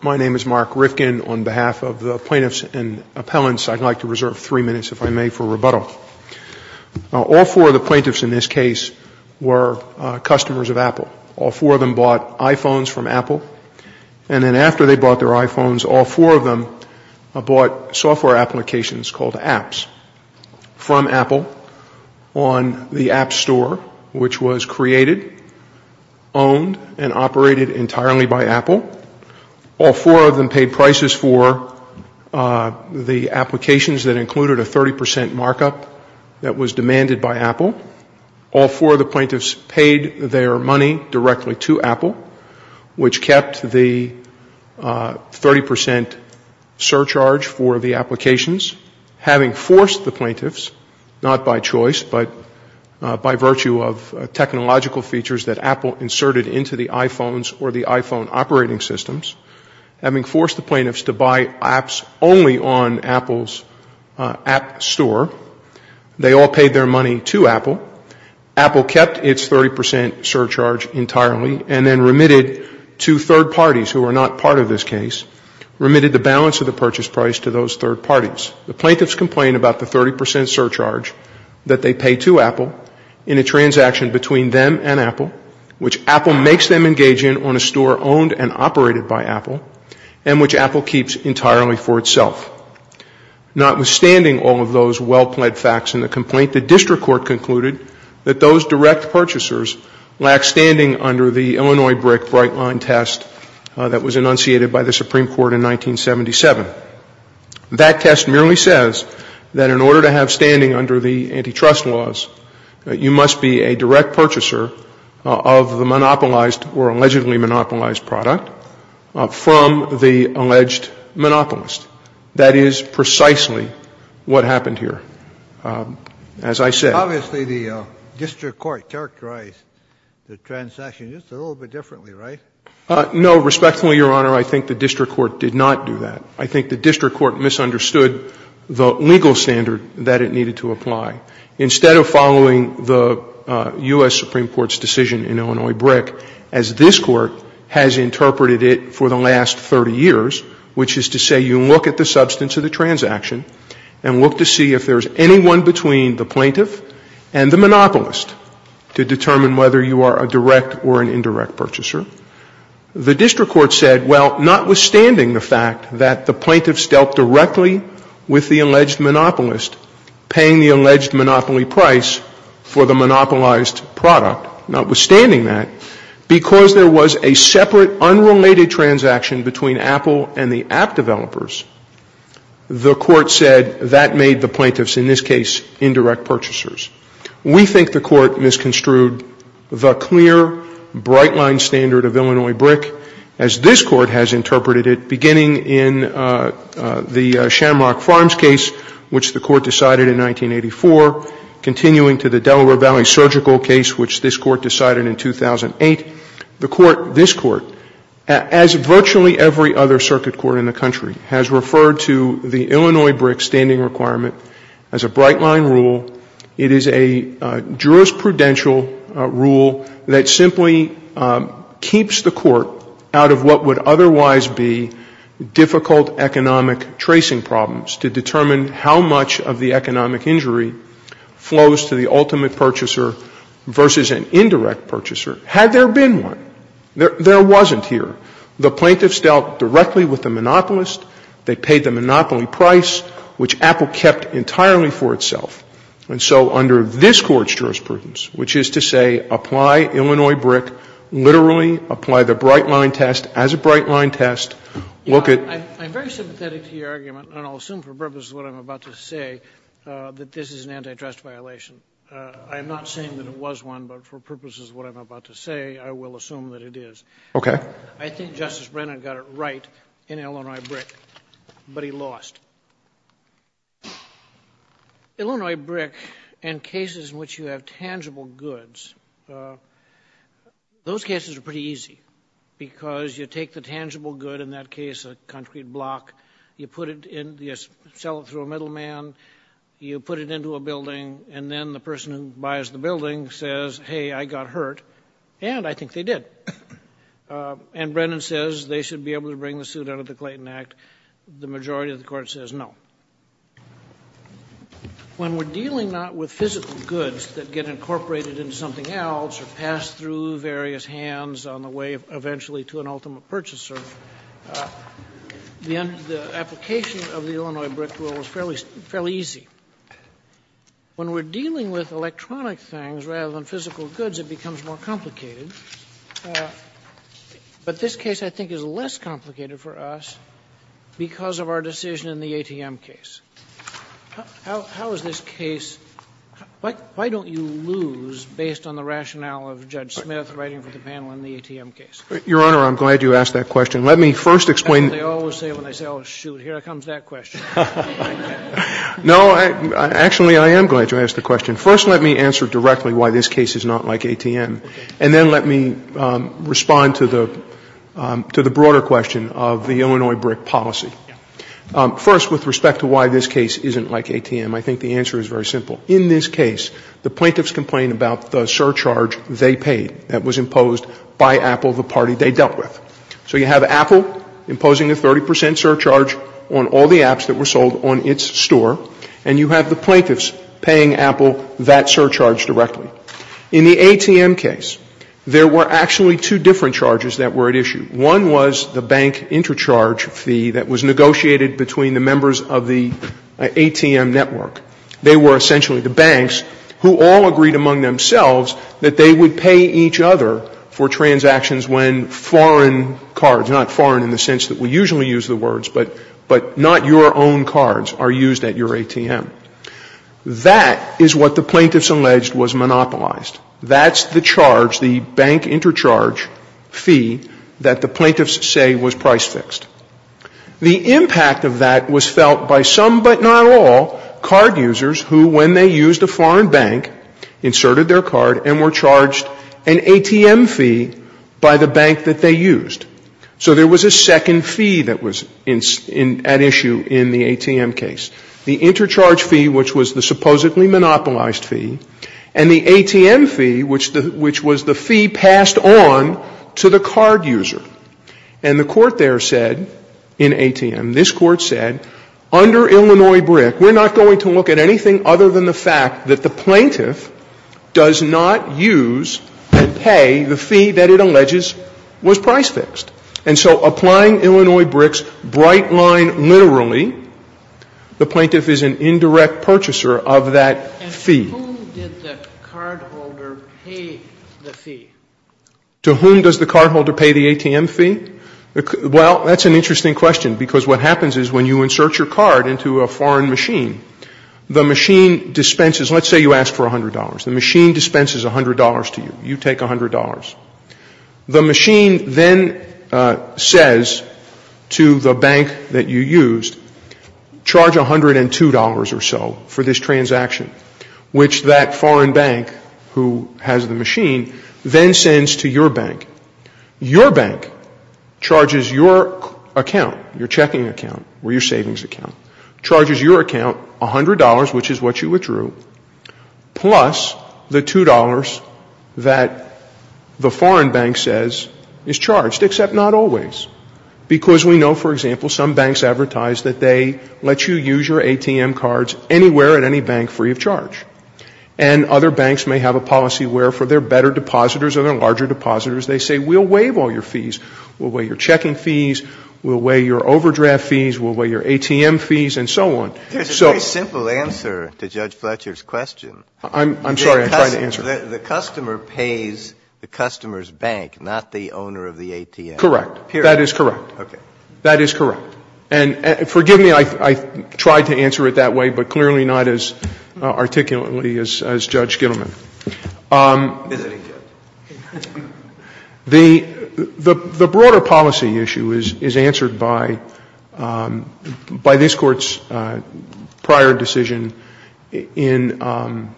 My name is Mark Rifkin. On behalf of the plaintiffs and appellants, I'd like to reserve three minutes, if I may, for rebuttal. All four of the plaintiffs in this case were customers of Apple. All four of them bought iPhones from Apple, and then after they bought their iPhones, all four of them bought software applications called apps from Apple on the App Store, which was created, owned, and operated entirely by Apple. All four of them paid prices for the applications that included a 30 percent markup that was demanded by Apple. All four of the plaintiffs paid their money directly to Apple, which kept the 30 percent surcharge for the applications, having forced the plaintiffs, not by choice but by virtue of technological features that Apple inserted into the iPhones or the iPhone operating systems, having forced the plaintiffs to buy apps only on Apple's App Store. They all paid their money to Apple. Apple kept its 30 percent surcharge entirely and then remitted to third parties, who were not part of this case, remitted the balance of the purchase price to those third parties. The plaintiffs complained about the 30 percent surcharge that they paid to Apple in a transaction between them and Apple, which Apple makes them engage in on a store owned and operated by Apple, and which Apple keeps entirely for itself. Notwithstanding all of those well-plaid facts in the complaint, the district court concluded that those direct purchasers under the Illinois brick bright line test that was enunciated by the Supreme Court in 1977. That test merely says that in order to have standing under the antitrust laws, you must be a direct purchaser of the monopolized or allegedly monopolized product from the alleged monopolist. That is precisely what happened here. As I said. Obviously, the district court characterized the transaction just a little bit differently, right? No. Respectfully, Your Honor, I think the district court did not do that. I think the district court misunderstood the legal standard that it needed to apply. Instead of following the U.S. Supreme Court's decision in Illinois brick, as this Court has interpreted it for the last 30 years, which is to say you look at the substance of the transaction and look to see if there's anyone between the plaintiff and the monopolist to determine whether you are a direct or an indirect purchaser. The district court said, well, notwithstanding the fact that the plaintiff dealt directly with the alleged monopolist, paying the alleged monopoly price for the monopolized product, notwithstanding that, because there was a separate, unrelated transaction between Apple and the app developers, the court said that made the plaintiffs, in this case, indirect purchasers. We think the court misconstrued the clear, bright-line standard of Illinois brick, as this Court has interpreted it, beginning in the Shamrock Farms case, which the Court decided in 1984, continuing to the Delaware Valley surgical case, which this Court decided in 2008. The Court, this Court, as virtually every other circuit court in the country, has referred to the Illinois brick standing requirement as a bright-line rule. It is a jurisprudential rule that simply keeps the court out of what would otherwise be difficult economic tracing problems to determine how much of the economic injury flows to the ultimate purchaser versus an indirect purchaser, had there been one. There wasn't here. The plaintiffs dealt directly with the monopolist. They paid the monopoly price, which Apple kept entirely for itself. And so under this Court's jurisprudence, which is to say, apply Illinois brick, literally apply the bright-line test as a bright-line test, look at the---- Sotomayor, I'm very sympathetic to your argument, and I'll assume for purposes of what I'm about to say, that this is an antitrust violation. I'm not saying that it was one, but for purposes of what I'm about to say, I will assume that it is. Okay. I think Justice Brennan got it right in Illinois brick, but he lost. Illinois brick and cases in which you have tangible goods, those cases are pretty easy, because you take the tangible good, in that case a concrete block, you put it in, you sell it through a middleman, you put it into a building, and then the person who buys the building says, hey, I got hurt, and I think they did. And Brennan says they should be able to bring the suit out of the Clayton Act. The majority of the Court says no. When we're dealing not with physical goods that get incorporated into something else or pass through various hands on the way eventually to an ultimate purchaser, the application of the Illinois brick rule is fairly easy. When we're dealing with electronic things rather than physical goods, it becomes more complicated. But this case I think is less complicated for us because of our decision in the ATM case. How is this case why don't you lose based on the rationale of Judge Smith writing for the panel in the ATM case? Your Honor, I'm glad you asked that question. Let me first explain. That's what they always say when they say, oh, shoot, here comes that question. No, actually, I am glad you asked the question. First, let me answer directly why this case is not like ATM, and then let me respond to the broader question of the Illinois brick policy. First, with respect to why this case isn't like ATM, I think the answer is very simple. In this case, the plaintiffs complain about the surcharge they paid that was imposed by Apple, the party they dealt with. So you have Apple imposing a 30 percent surcharge on all the apps that were sold on its store, and you have the plaintiffs paying Apple that surcharge directly. In the ATM case, there were actually two different charges that were at issue. One was the bank intercharge fee that was negotiated between the members of the ATM network. They were essentially the banks who all agreed among themselves that they would pay each other for transactions when foreign cards, not foreign in the sense that we usually use the words, but not your own cards are used at your ATM. That is what the plaintiffs alleged was monopolized. That's the charge, the bank intercharge fee that the plaintiffs say was price fixed. The impact of that was felt by some but not all card users who, when they used a foreign bank, inserted their card and were charged an ATM fee by the bank that they used. So there was a second fee that was at issue in the ATM case. The intercharge fee, which was the supposedly monopolized fee, and the ATM fee, which was the fee passed on to the card user. And the court there said, in ATM, this court said, under Illinois BRIC, we're not going to look at anything other than the fact that the plaintiff does not use and pay the fee that it alleges was price fixed. And so applying Illinois BRIC's bright line literally, the plaintiff is an indirect purchaser of that fee. And to whom did the cardholder pay the fee? To whom does the cardholder pay the ATM fee? Well, that's an interesting question because what happens is when you insert your card, the machine dispenses. Let's say you ask for $100. The machine dispenses $100 to you. You take $100. The machine then says to the bank that you used, charge $102 or so for this transaction, which that foreign bank who has the machine then sends to your bank. Your bank charges your account, your checking account or your savings account, charges your account $100, which is what you withdrew, plus the $2 that the foreign bank says is charged, except not always. Because we know, for example, some banks advertise that they let you use your ATM cards anywhere at any bank free of charge. And other banks may have a policy where for their better depositors or their larger depositors, they say we'll waive all your fees. We'll waive your checking fees. We'll waive your overdraft fees. We'll waive your ATM fees and so on. So. Breyer. It's a very simple answer to Judge Fletcher's question. I'm sorry. I'm trying to answer. The customer pays the customer's bank, not the owner of the ATM. Correct. Period. That is correct. Okay. That is correct. And forgive me. I tried to answer it that way, but clearly not as articulately as Judge Gittleman. Is it? The broader policy issue is answered by this Court's prior decision in an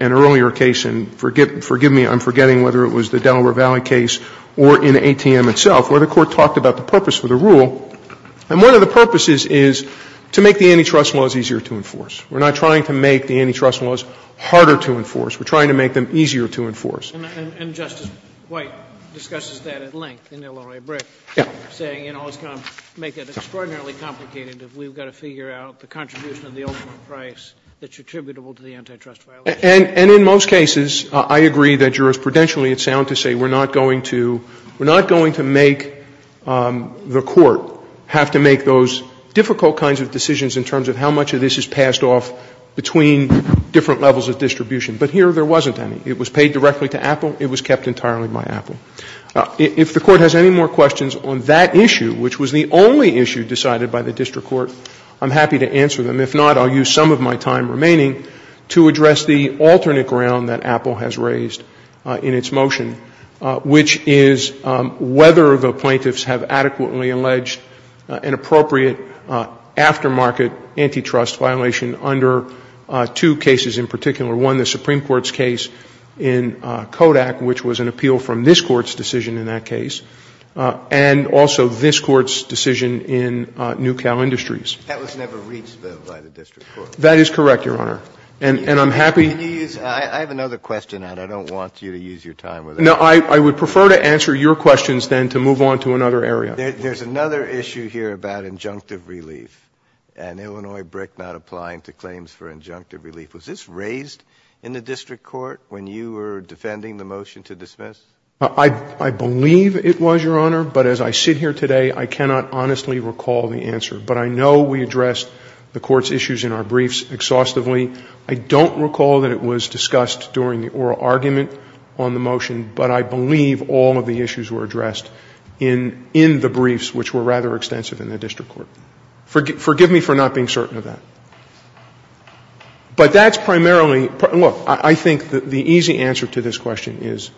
earlier case, and forgive me, I'm forgetting whether it was the Delaware Valley case or in ATM itself, where the Court talked about the purpose for the rule. And one of the purposes is to make the antitrust laws easier to enforce. We're not trying to make the antitrust laws harder to enforce. We're trying to make them easier to enforce. And Justice White discusses that at length in Illinois Brick, saying, you know, it's going to make it extraordinarily complicated if we've got to figure out the contribution of the ultimate price that's attributable to the antitrust violation. And in most cases, I agree that jurisprudentially it's sound to say we're not going to make the Court have to make those difficult kinds of decisions in terms of how much of this is passed off between different levels of distribution. But here there wasn't any. It was paid directly to Apple. It was kept entirely by Apple. If the Court has any more questions on that issue, which was the only issue decided by the district court, I'm happy to answer them. If not, I'll use some of my time remaining to address the alternate ground that Apple has raised in its motion, which is whether the plaintiffs have adequately alleged an appropriate aftermarket antitrust violation under two cases in particular, one, the Supreme Court's case in Kodak, which was an appeal from this Court's decision in that case, and also this Court's decision in Newcal Industries. That was never reached, though, by the district court. That is correct, Your Honor. And I'm happy to use my time. I have another question, and I don't want you to use your time with it. No, I would prefer to answer your questions than to move on to another area. There's another issue here about injunctive relief and Illinois Brick not applying to claims for injunctive relief. Was this raised in the district court when you were defending the motion to dismiss? I believe it was, Your Honor, but as I sit here today, I cannot honestly recall the answer. But I know we addressed the Court's issues in our briefs exhaustively. I don't recall that it was discussed during the oral argument on the motion, but I believe all of the issues were addressed in the briefs, which were rather extensive in the district court. Forgive me for not being certain of that. But that's primarily – look, I think the easy answer to this question is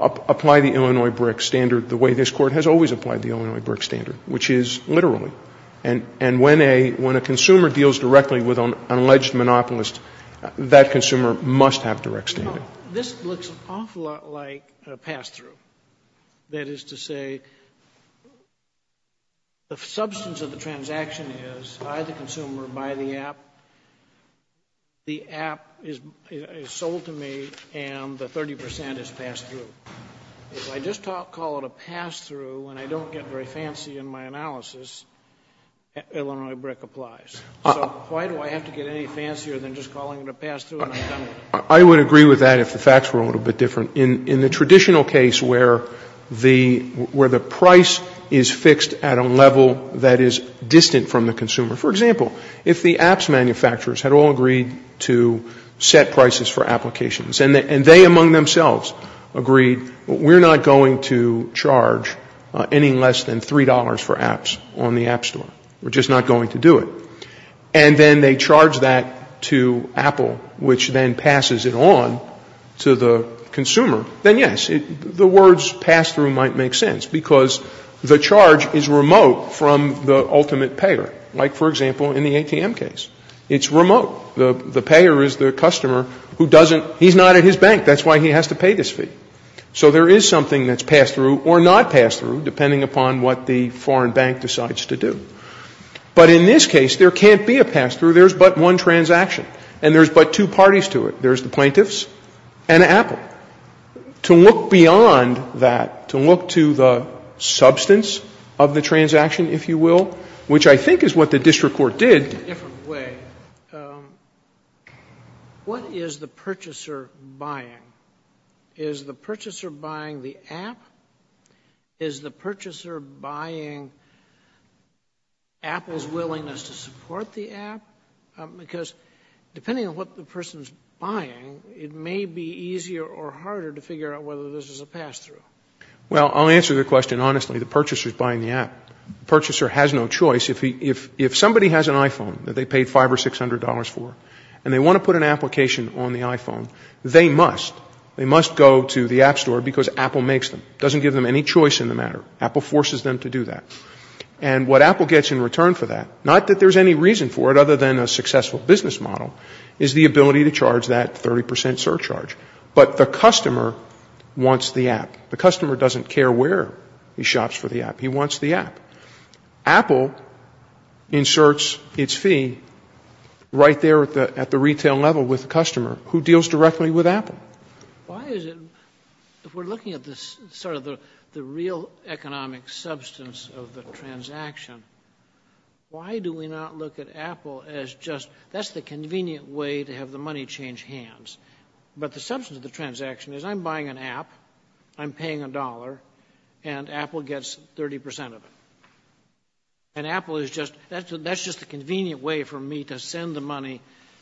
apply the Illinois Brick standard the way this Court has always applied the Illinois Brick standard, which is literally. And when a consumer deals directly with an alleged monopolist, that consumer must have direct standard. This looks an awful lot like a pass-through. That is to say, the substance of the transaction is I, the consumer, buy the app, the app is sold to me, and the 30 percent is pass-through. If I just call it a pass-through and I don't get very fancy in my analysis, Illinois Brick applies. So why do I have to get any fancier than just calling it a pass-through and I've done it? I would agree with that if the facts were a little bit different. In the traditional case where the price is fixed at a level that is distant from the consumer. For example, if the apps manufacturers had all agreed to set prices for applications and they among themselves agreed we're not going to charge any less than $3 for apps on the app store. We're just not going to do it. And then they charge that to Apple, which then passes it on to the consumer, then yes, the words pass-through might make sense because the charge is remote from the ultimate payer. Like, for example, in the ATM case. It's remote. The payer is the customer who doesn't, he's not at his bank, that's why he has to pay this fee. So there is something that's pass-through or not pass-through depending upon what the foreign bank decides to do. But in this case, there can't be a pass-through. There's but one transaction. And there's but two parties to it. There's the plaintiffs and Apple. To look beyond that, to look to the substance of the transaction, if you will, which I think is what the district court did. Sotomayor, in a different way, what is the purchaser buying? Is the purchaser buying the app? Is the purchaser buying Apple's willingness to support the app? Because depending on what the person is buying, it may be easier or harder to figure out whether this is a pass-through. Well, I'll answer the question honestly. The purchaser is buying the app. The purchaser has no choice. If somebody has an iPhone that they paid $500 or $600 for and they want to put an application on the iPhone, they must. They must go to the app store because Apple makes them. It doesn't give them any choice in the matter. Apple forces them to do that. And what Apple gets in return for that, not that there's any reason for it other than a successful business model, is the ability to charge that 30 percent surcharge. But the customer wants the app. The customer doesn't care where he shops for the app. He wants the app. Apple inserts its fee right there at the retail level with the customer who deals directly with Apple. Why is it, if we're looking at sort of the real economic substance of the transaction, why do we not look at Apple as just, that's the convenient way to have the money change hands. But the substance of the transaction is I'm buying an app, I'm paying a dollar, and Apple gets 30 percent of it. And Apple is just, that's just a convenient way for me to send the money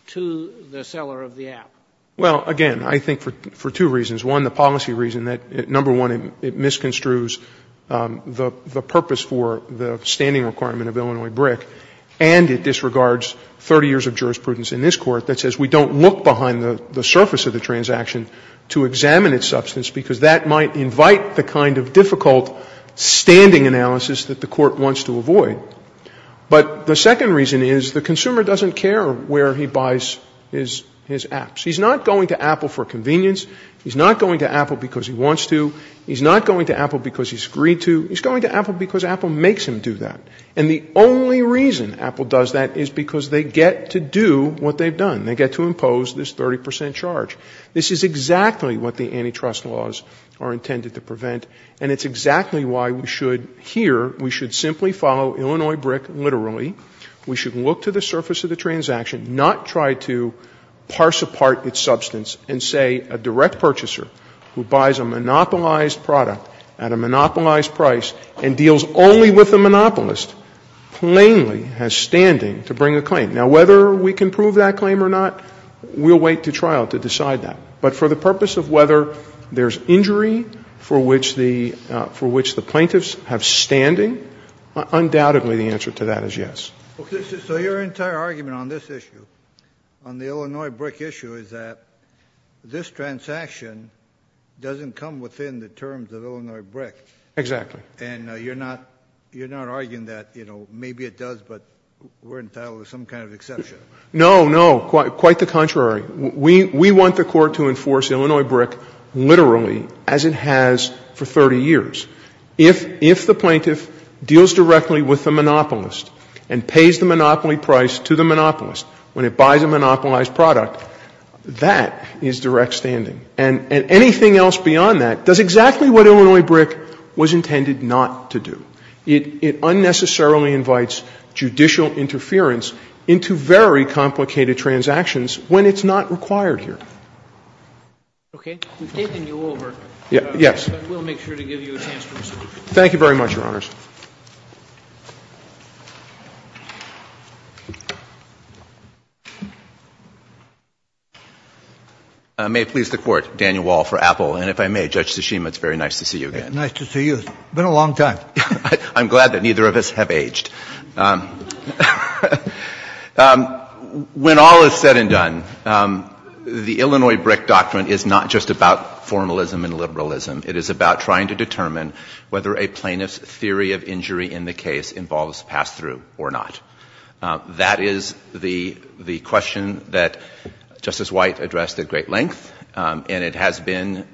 to the seller of the app. Well, again, I think for two reasons. One, the policy reason that, number one, it misconstrues the purpose for the standing requirement of Illinois BRIC and it disregards 30 years of jurisprudence in this Court that says we don't look behind the surface of the transaction to examine its substance because that might invite the kind of difficult standing analysis that the Court wants to avoid. But the second reason is the consumer doesn't care where he buys his apps. He's not going to Apple for convenience. He's not going to Apple because he wants to. He's not going to Apple because he's agreed to. He's going to Apple because Apple makes him do that. And the only reason Apple does that is because they get to do what they've done. They get to impose this 30 percent charge. This is exactly what the antitrust laws are intended to prevent, and it's exactly why we should here, we should simply follow Illinois BRIC literally. We should look to the surface of the transaction, not try to parse apart its substance and say a direct purchaser who buys a monopolized product at a monopolized price and deals only with the monopolist plainly has standing to bring a claim. Now, whether we can prove that claim or not, we'll wait to trial to decide that. But for the purpose of whether there's injury for which the plaintiffs have standing, undoubtedly the answer to that is yes. Kennedy. So your entire argument on this issue, on the Illinois BRIC issue, is that this transaction doesn't come within the terms of Illinois BRIC. Exactly. And you're not arguing that, you know, maybe it does, but we're entitled to some kind of exception. No, no, quite the contrary. We want the Court to enforce Illinois BRIC literally as it has for 30 years. If the plaintiff deals directly with the monopolist and pays the monopoly price to the monopolist when it buys a monopolized product, that is direct standing. And anything else beyond that does exactly what Illinois BRIC was intended not to do. It unnecessarily invites judicial interference into very complicated transactions when it's not required here. Okay. We've taken you over. Yes. But we'll make sure to give you a chance to respond. Thank you very much, Your Honors. May it please the Court. Daniel Wall for Apple. And if I may, Judge Tshishima, it's very nice to see you again. Nice to see you. It's been a long time. I'm glad that neither of us have aged. When all is said and done, the Illinois BRIC doctrine is not just about formalism and liberalism. It is about trying to determine whether a plaintiff's theory is correct or not. And whether the theory of injury in the case involves pass-through or not. That is the question that Justice White addressed at great length. And it has been,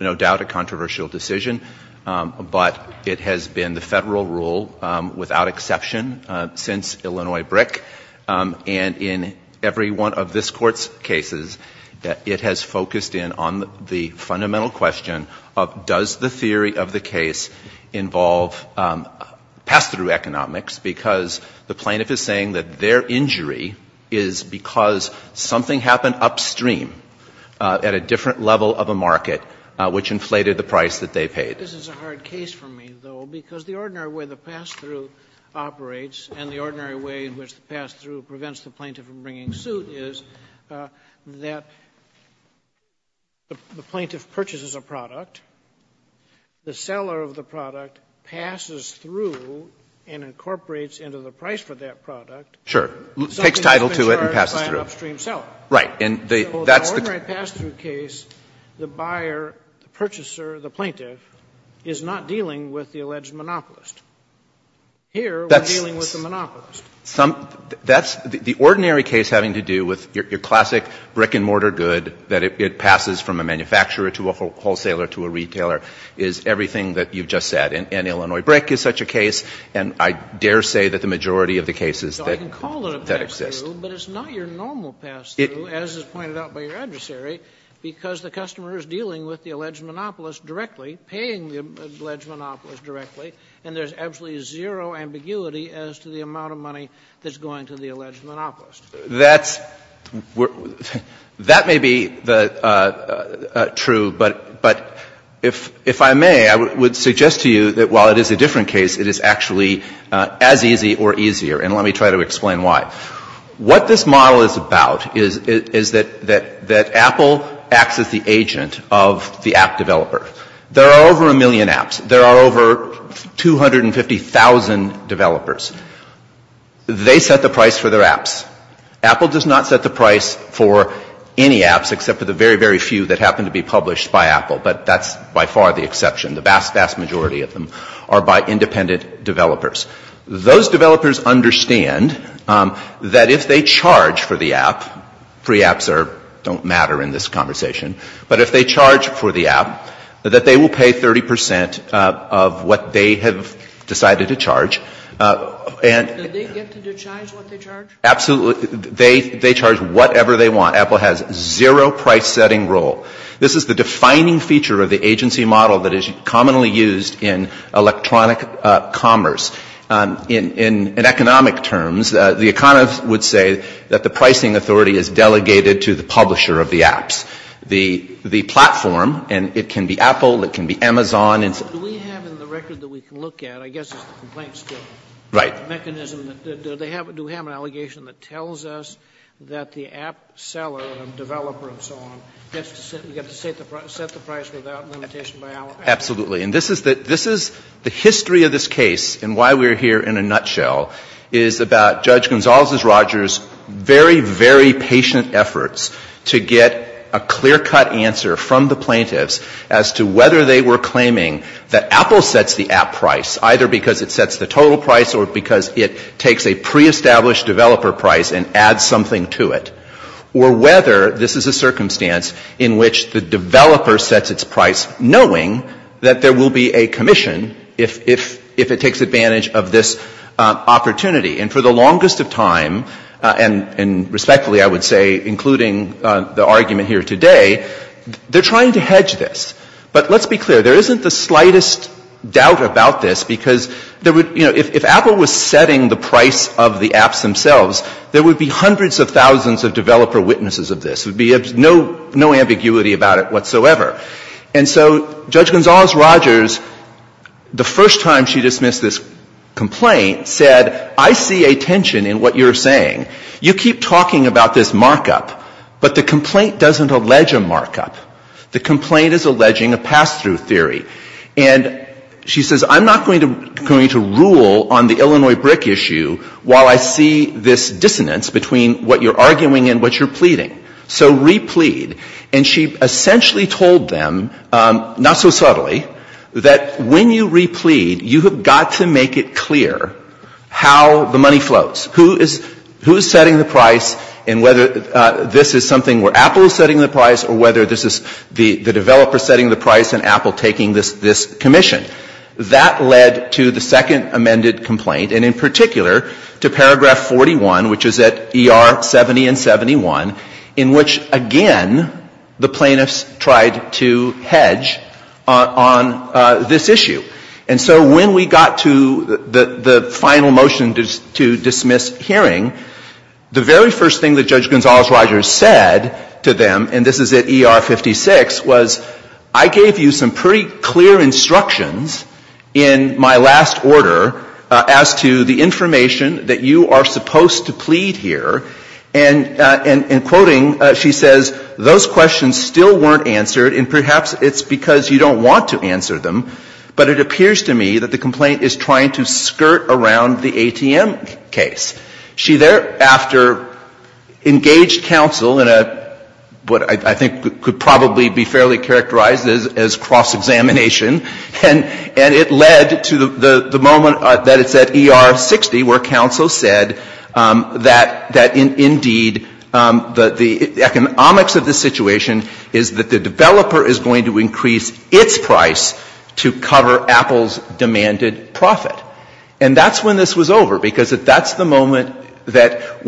no doubt, a controversial decision. But it has been the Federal rule without exception since Illinois BRIC. And in every one of this Court's cases, it has focused in on the fundamental question of does the theory of the case involve pass-through economics. Because the plaintiff is saying that their injury is because something happened upstream at a different level of a market which inflated the price that they paid. This is a hard case for me, though, because the ordinary way the pass-through operates and the ordinary way in which the pass-through prevents the plaintiff from bringing suit is that the plaintiff purchases a product, the seller of the product passes through and incorporates into the price for that product something that's been charged by an upstream seller. So in the ordinary pass-through case, the buyer, the purchaser, the plaintiff is not dealing with the alleged monopolist. Here, we're dealing with the monopolist. That's the ordinary case having to do with your classic brick-and-mortar good that it passes from a manufacturer to a wholesaler to a retailer is everything that you've just said. And Illinois BRIC is such a case, and I dare say that the majority of the cases that exist. Kennedy. So I can call it a pass-through, but it's not your normal pass-through, as is pointed out by your adversary, because the customer is dealing with the alleged monopolist directly, paying the alleged monopolist directly, and there's absolutely zero ambiguity as to the amount of money that's going to the alleged monopolist. That's — that may be true, but if I may, I would suggest to you that while it is a different case, it is actually as easy or easier, and let me try to explain why. What this model is about is that Apple acts as the agent of the app developer. There are over a million apps. There are over 250,000 developers. They set the price for their apps. Apple does not set the price for any apps except for the very, very few that happen to be published by Apple, but that's by far the exception. The vast, vast majority of them are by independent developers. Those developers understand that if they charge for the app — free apps don't matter in this conversation — but if they charge for the app, that they will pay 30 percent of what they have decided to charge. And — Do they get to decide what they charge? Absolutely. They charge whatever they want. Apple has zero price-setting role. This is the defining feature of the agency model that is commonly used in electronic commerce. In economic terms, the economists would say that the pricing authority is delegated to the publisher of the apps. The platform — and it can be Apple, it can be Amazon — Do we have in the record that we can look at, I guess it's the complaints — Right. — mechanism, do we have an allegation that tells us that the app seller, developer and so on, gets to set the price without limitation by — Absolutely. And this is — the history of this case and why we're here in a nutshell is about very, very patient efforts to get a clear-cut answer from the plaintiffs as to whether they were claiming that Apple sets the app price, either because it sets the total price or because it takes a pre-established developer price and adds something to it. Or whether this is a circumstance in which the developer sets its price knowing that there will be a commission if it takes advantage of this opportunity. And for the longest of time, and respectfully, I would say, including the argument here today, they're trying to hedge this. But let's be clear. There isn't the slightest doubt about this because there would — you know, if Apple was setting the price of the apps themselves, there would be hundreds of thousands of developer witnesses of this. There would be no ambiguity about it whatsoever. And so Judge Gonzales-Rogers, the first time she dismissed this complaint, said, I see a tension in what you're saying. You keep talking about this markup, but the complaint doesn't allege a markup. The complaint is alleging a pass-through theory. And she says, I'm not going to rule on the Illinois brick issue while I see this dissonance between what you're arguing and what you're pleading. So re-plead. And she essentially told them, not so subtly, that when you re-plead, you have got to make it clear how the money floats, who is setting the price and whether this is something where Apple is setting the price or whether this is the developer setting the price and Apple taking this commission. That led to the second amended complaint, and in particular to paragraph 41, which is at ER 70 and 71, in which, again, the plaintiffs tried to hedge on this issue. And so when we got to the final motion to dismiss hearing, the very first thing that Judge Gonzales-Rogers said to them, and this is at ER 56, was, I gave you some pretty clear instructions in my last order as to the information that you are supposed to plead here. And in quoting, she says, those questions still weren't answered, and perhaps it's because you don't want to answer them, but it appears to me that the complaint is trying to skirt around the ATM case. She thereafter engaged counsel in what I think could probably be fairly characterized as cross-examination, and it led to the moment that it's at ER 60 where counsel said that, indeed, the economics of the situation is that the developer is going to increase its price to cover Apple's demanded profit. And that's when this was over, because that's the moment that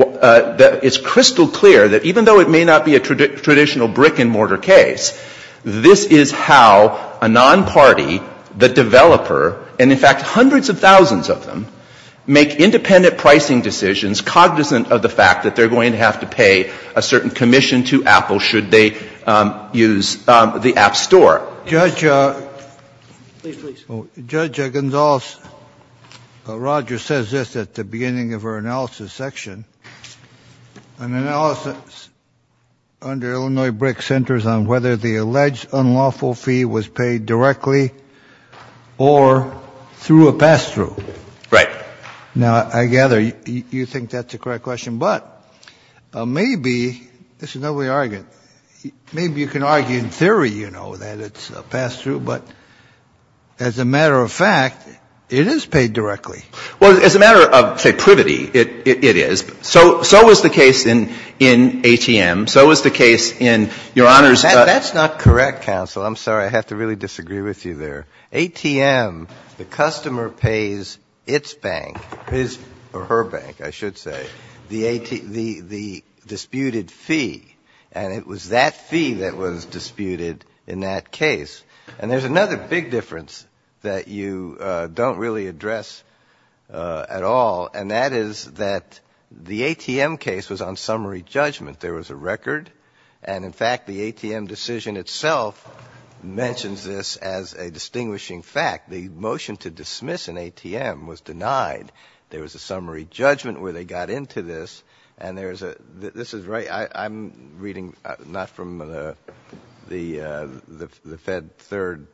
it's crystal clear that even though it may not be a traditional brick-and-mortar case, this is how a non-party, the developer, and in fact hundreds of thousands of them, make independent pricing decisions cognizant of the fact that they're going to have to pay a certain commission to Apple should they use the App Store. Kennedy. Please, please. Kennedy. Judge Gonzales-Rogers says this at the beginning of her analysis section, an analysis under Illinois brick centers on whether the alleged unlawful fee was paid directly or through a pass-through. Right. Now, I gather you think that's a correct question. But maybe, this is another way of arguing, maybe you can argue in theory, you know, that it's a pass-through, but as a matter of fact, it is paid directly. Well, as a matter of, say, privity, it is. So was the case in ATM. So was the case in Your Honor's. That's not correct, counsel. I'm sorry. I have to really disagree with you there. ATM, the customer pays its bank, his or her bank, I should say, the disputed fee. And it was that fee that was disputed in that case. And there's another big difference that you don't really address at all. And that is that the ATM case was on summary judgment. There was a record. And, in fact, the ATM decision itself mentions this as a distinguishing fact. The motion to dismiss an ATM was denied. There was a summary judgment where they got into this. And there's a, this is right, I'm reading not from the Fed third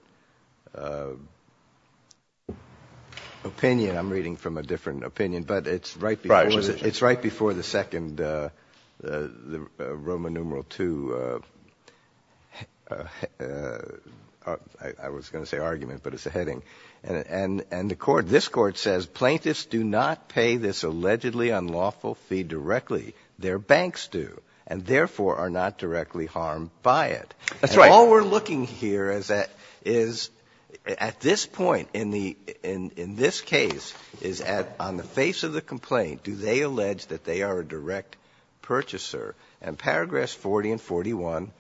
opinion. I'm reading from a different opinion. But it's right before the second Roman numeral two, I was going to say argument, but it's a heading. And the court, this court says plaintiffs do not pay this allegedly unlawful fee directly. Their banks do and, therefore, are not directly harmed by it. That's right. All we're looking here is at this point, in this case, is on the face of the complaint, do they allege that they are a direct purchaser? And paragraphs 40 and 41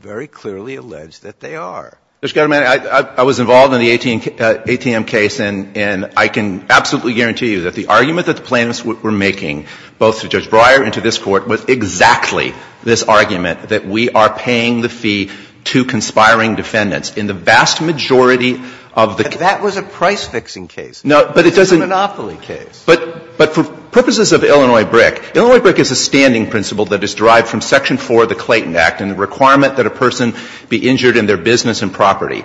very clearly allege that they are. Mr. Chairman, I was involved in the ATM case. And I can absolutely guarantee you that the argument that the plaintiffs were making, both to Judge Breyer and to this Court, was exactly this argument, that we are paying the fee to conspiring defendants in the vast majority of the cases. But that was a price-fixing case. No, but it doesn't. It was a monopoly case. But for purposes of Illinois BRIC, Illinois BRIC is a standing principle that is derived from Section 4 of the Clayton Act and the requirement that a person be injured in their business and property.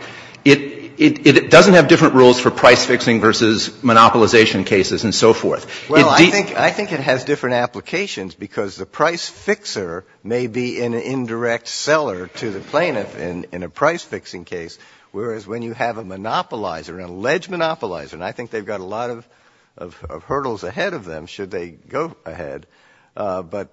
It doesn't have different rules for price-fixing versus monopolization cases and so forth. Well, I think it has different applications because the price-fixer may be an indirect seller to the plaintiff in a price-fixing case, whereas when you have a monopolizer, an alleged monopolizer, and I think they've got a lot of hurdles ahead of them, should they go ahead. But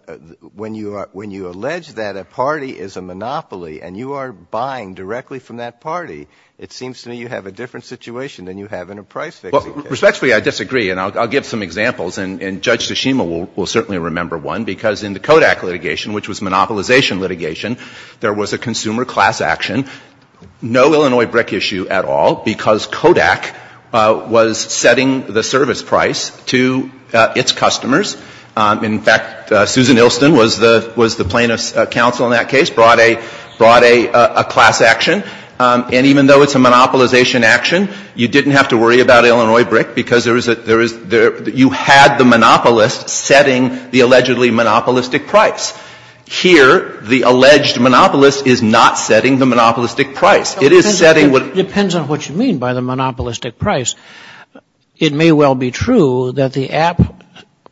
when you allege that a party is a monopoly and you are buying directly from that party, it seems to me you have a different situation than you have in a price-fixing case. Respectfully, I disagree. And I'll give some examples. And Judge Tsushima will certainly remember one, because in the Kodak litigation, which was monopolization litigation, there was a consumer class action, no Illinois BRIC issue at all, because Kodak was setting the service price to its customers. In fact, Susan Ilston was the plaintiff's counsel in that case, brought a class action. And even though it's a monopolization action, you didn't have to worry about Illinois BRIC, because you had the monopolist setting the allegedly monopolistic price. Here, the alleged monopolist is not setting the monopolistic price. It is setting what the... It depends on what you mean by the monopolistic price. It may well be true that the app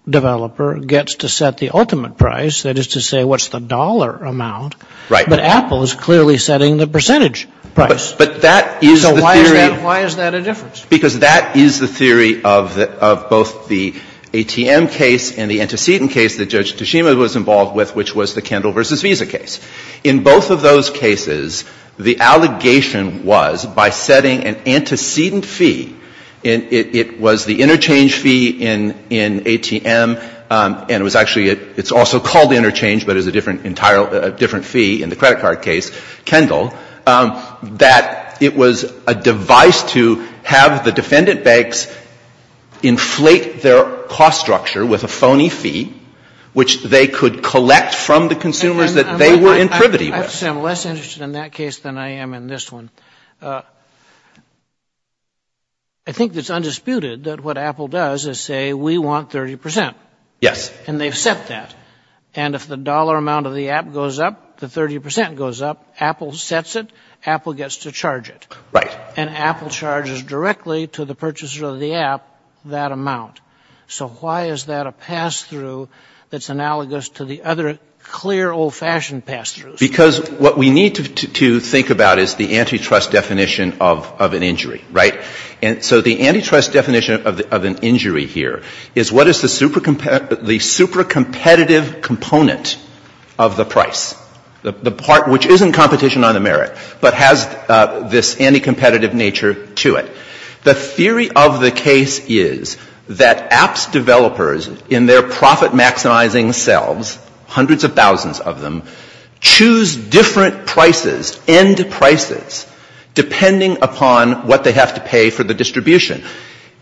developer gets to set the ultimate price, that is to say what's the dollar amount. Right. But Apple is clearly setting the percentage price. But that is the theory... So why is that a difference? Because that is the theory of both the ATM case and the antecedent case that Judge Tsushima was involved with, which was the Kendall v. Visa case. In both of those cases, the allegation was by setting an antecedent fee, and it was the interchange fee in ATM, and it was actually also called interchange, but it was a different fee in the credit card case, Kendall, that it was a device to have the defendant banks inflate their cost structure with a phony fee, which they could collect from the consumers that they were in privity with. I'm less interested in that case than I am in this one. I think it's undisputed that what Apple does is say we want 30 percent. Yes. And they've set that. And if the dollar amount of the app goes up, the 30 percent goes up. Apple sets it. Apple gets to charge it. Right. And Apple charges directly to the purchaser of the app that amount. So why is that a pass-through that's analogous to the other clear, old-fashioned pass-throughs? Because what we need to think about is the antitrust definition of an injury, right? And so the antitrust definition of an injury here is what is the super competitive component of the price, the part which isn't competition on the merit, but has this anti-competitive nature to it. The theory of the case is that apps developers, in their profit-maximizing selves, hundreds of thousands of them, choose different prices, end prices, depending upon what they have to pay for the distribution.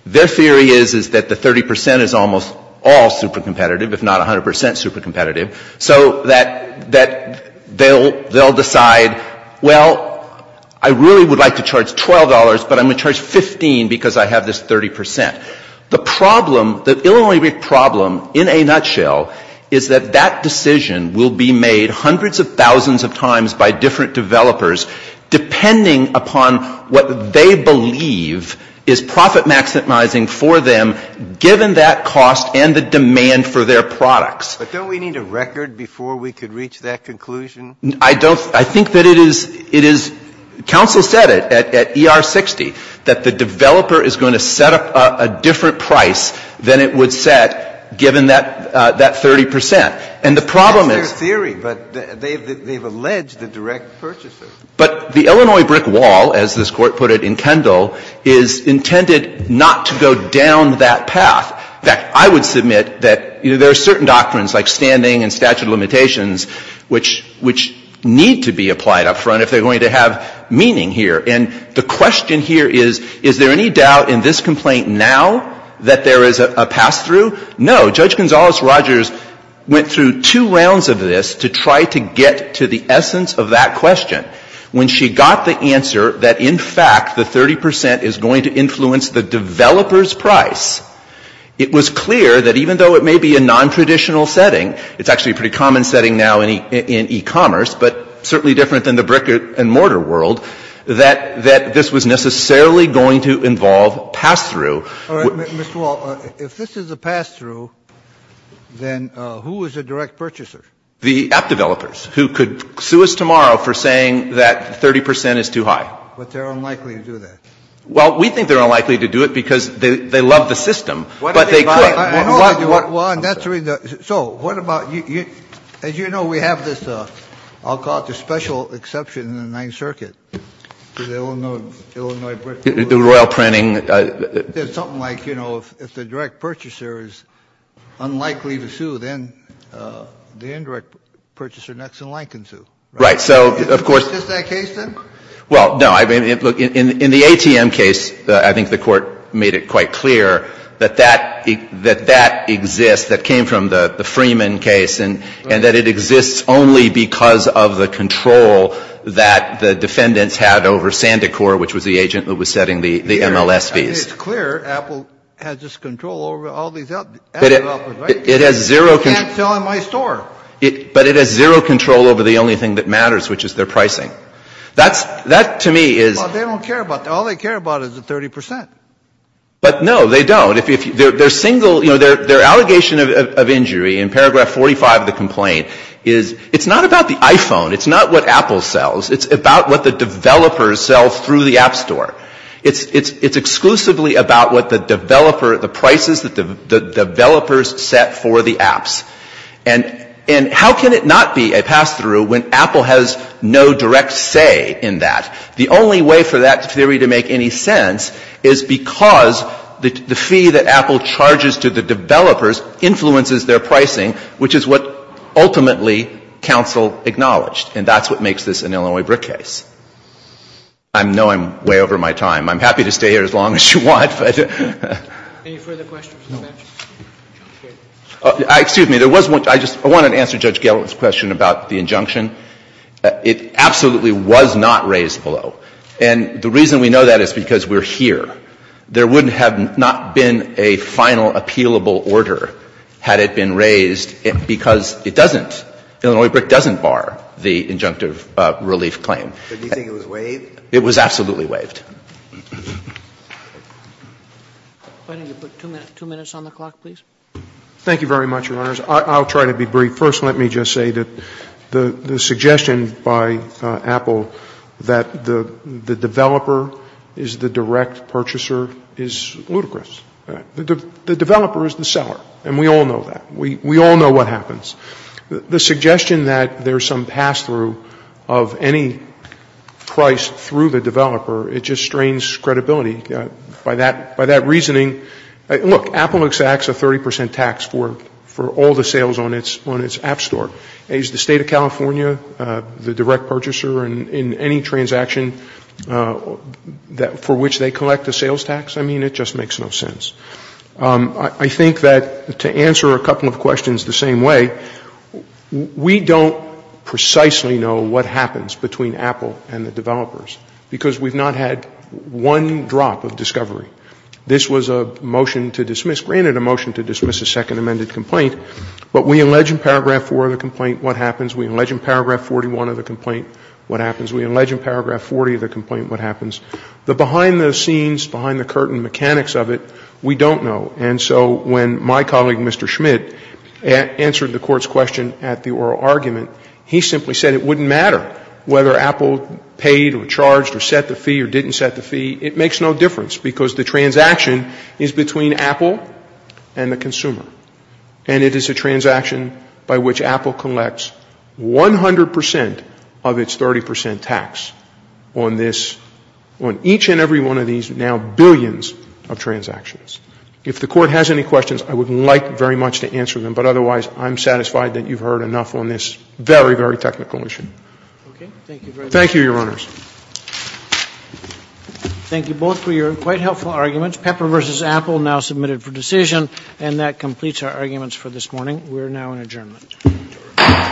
Their theory is, is that the 30 percent is almost all super competitive, if not 100 percent super competitive. So that they'll decide, well, I really would like to charge $12, but I'm going to charge 15 because I have this 30 percent. The problem, the Illinois problem, in a nutshell, is that that decision will be made hundreds of thousands of times by different developers, depending upon what they believe is profit-maximizing for them, given that cost and the demand for their products. But don't we need a record before we could reach that conclusion? I don't, I think that it is, it is, counsel said it at ER 60, that the developer is going to set up a different price than it would set, given that 30 percent. And the problem is It's their theory, but they've alleged the direct purchases. But the Illinois brick wall, as this Court put it in Kendall, is intended not to go down that path. In fact, I would submit that there are certain doctrines, like standing and statute of limitations, which need to be applied up front if they're going to have meaning here. And the question here is, is there any doubt in this complaint now that there is a pass-through? No. Judge Gonzales-Rogers went through two rounds of this to try to get to the essence of that question. When she got the answer that in fact the 30 percent is going to influence the developer's price, it was clear that even though it may be a non-traditional setting, it's actually a pretty common setting now in e-commerce, but certainly different than the brick and mortar world, that this was necessarily going to involve pass-through. All right. Mr. Wall, if this is a pass-through, then who is a direct purchaser? The app developers, who could sue us tomorrow for saying that 30 percent is too high. But they're unlikely to do that. Well, we think they're unlikely to do it because they love the system. But they could. I know they do. So what about you? As you know, we have this, I'll call it the special exception in the Ninth Circuit to the Illinois brick wall. The royal printing. There's something like, you know, if the direct purchaser is unlikely to sue, then the indirect purchaser next in line can sue. Right. So, of course. Is this that case, then? Well, no. Look, in the ATM case, I think the Court made it quite clear that that exists, that came from the Freeman case, and that it exists only because of the control that the defendants had over Sandecor, which was the agent that was setting the MLS fees. It's clear Apple has this control over all these app developers, right? It has zero control. You can't sell in my store. But it has zero control over the only thing that matters, which is their pricing. That, to me, is — Well, they don't care about that. All they care about is the 30 percent. But, no, they don't. Their single, you know, their allegation of injury in paragraph 45 of the complaint is, it's not about the iPhone. It's not what Apple sells. It's about what the developers sell through the App Store. It's exclusively about what the developer — the prices that the developers set for the apps. And how can it not be a pass-through when Apple has no direct say in that? The only way for that theory to make any sense is because the fee that Apple charges to the developers influences their pricing, which is what ultimately counsel acknowledged. And that's what makes this an Illinois BRIC case. I know I'm way over my time. I'm happy to stay here as long as you want, but — Any further questions? No. Excuse me. There was one. I just wanted to answer Judge Gellert's question about the injunction. It absolutely was not raised below. And the reason we know that is because we're here. There would have not been a final appealable order had it been raised because it doesn't — Illinois BRIC doesn't bar the injunctive relief claim. But do you think it was waived? It was absolutely waived. Why don't you put two minutes on the clock, please? Thank you very much, Your Honors. I'll try to be brief. First, let me just say that the suggestion by Apple that the developer is the direct purchaser is ludicrous. The developer is the seller, and we all know that. We all know what happens. The suggestion that there's some pass-through of any price through the developer, it just strains credibility. By that reasoning — look, Apple exacts a 30 percent tax for all the sales on its app store. Is the State of California the direct purchaser in any transaction for which they collect a sales tax? I mean, it just makes no sense. I think that to answer a couple of questions the same way, we don't precisely know what happens between Apple and the developers because we've not had one drop of discovery. This was a motion to dismiss — granted a motion to dismiss a second amended complaint, but we allege in paragraph 4 of the complaint what happens. We allege in paragraph 41 of the complaint what happens. We allege in paragraph 40 of the complaint what happens. The behind-the-scenes, behind-the-curtain mechanics of it, we don't know. And so when my colleague, Mr. Schmidt, answered the Court's question at the oral argument, he simply said it wouldn't matter whether Apple paid or charged or set the fee or didn't set the fee. It makes no difference because the transaction is between Apple and the consumer. And it is a transaction by which Apple collects 100 percent of its 30 percent tax on this — on each and every one of these now billions of transactions. If the Court has any questions, I would like very much to answer them, but otherwise I'm satisfied that you've heard enough on this very, very technical issue. Thank you, Your Honors. Thank you both for your quite helpful arguments. Pepper v. Apple now submitted for decision. And that completes our arguments for this morning. We are now in adjournment.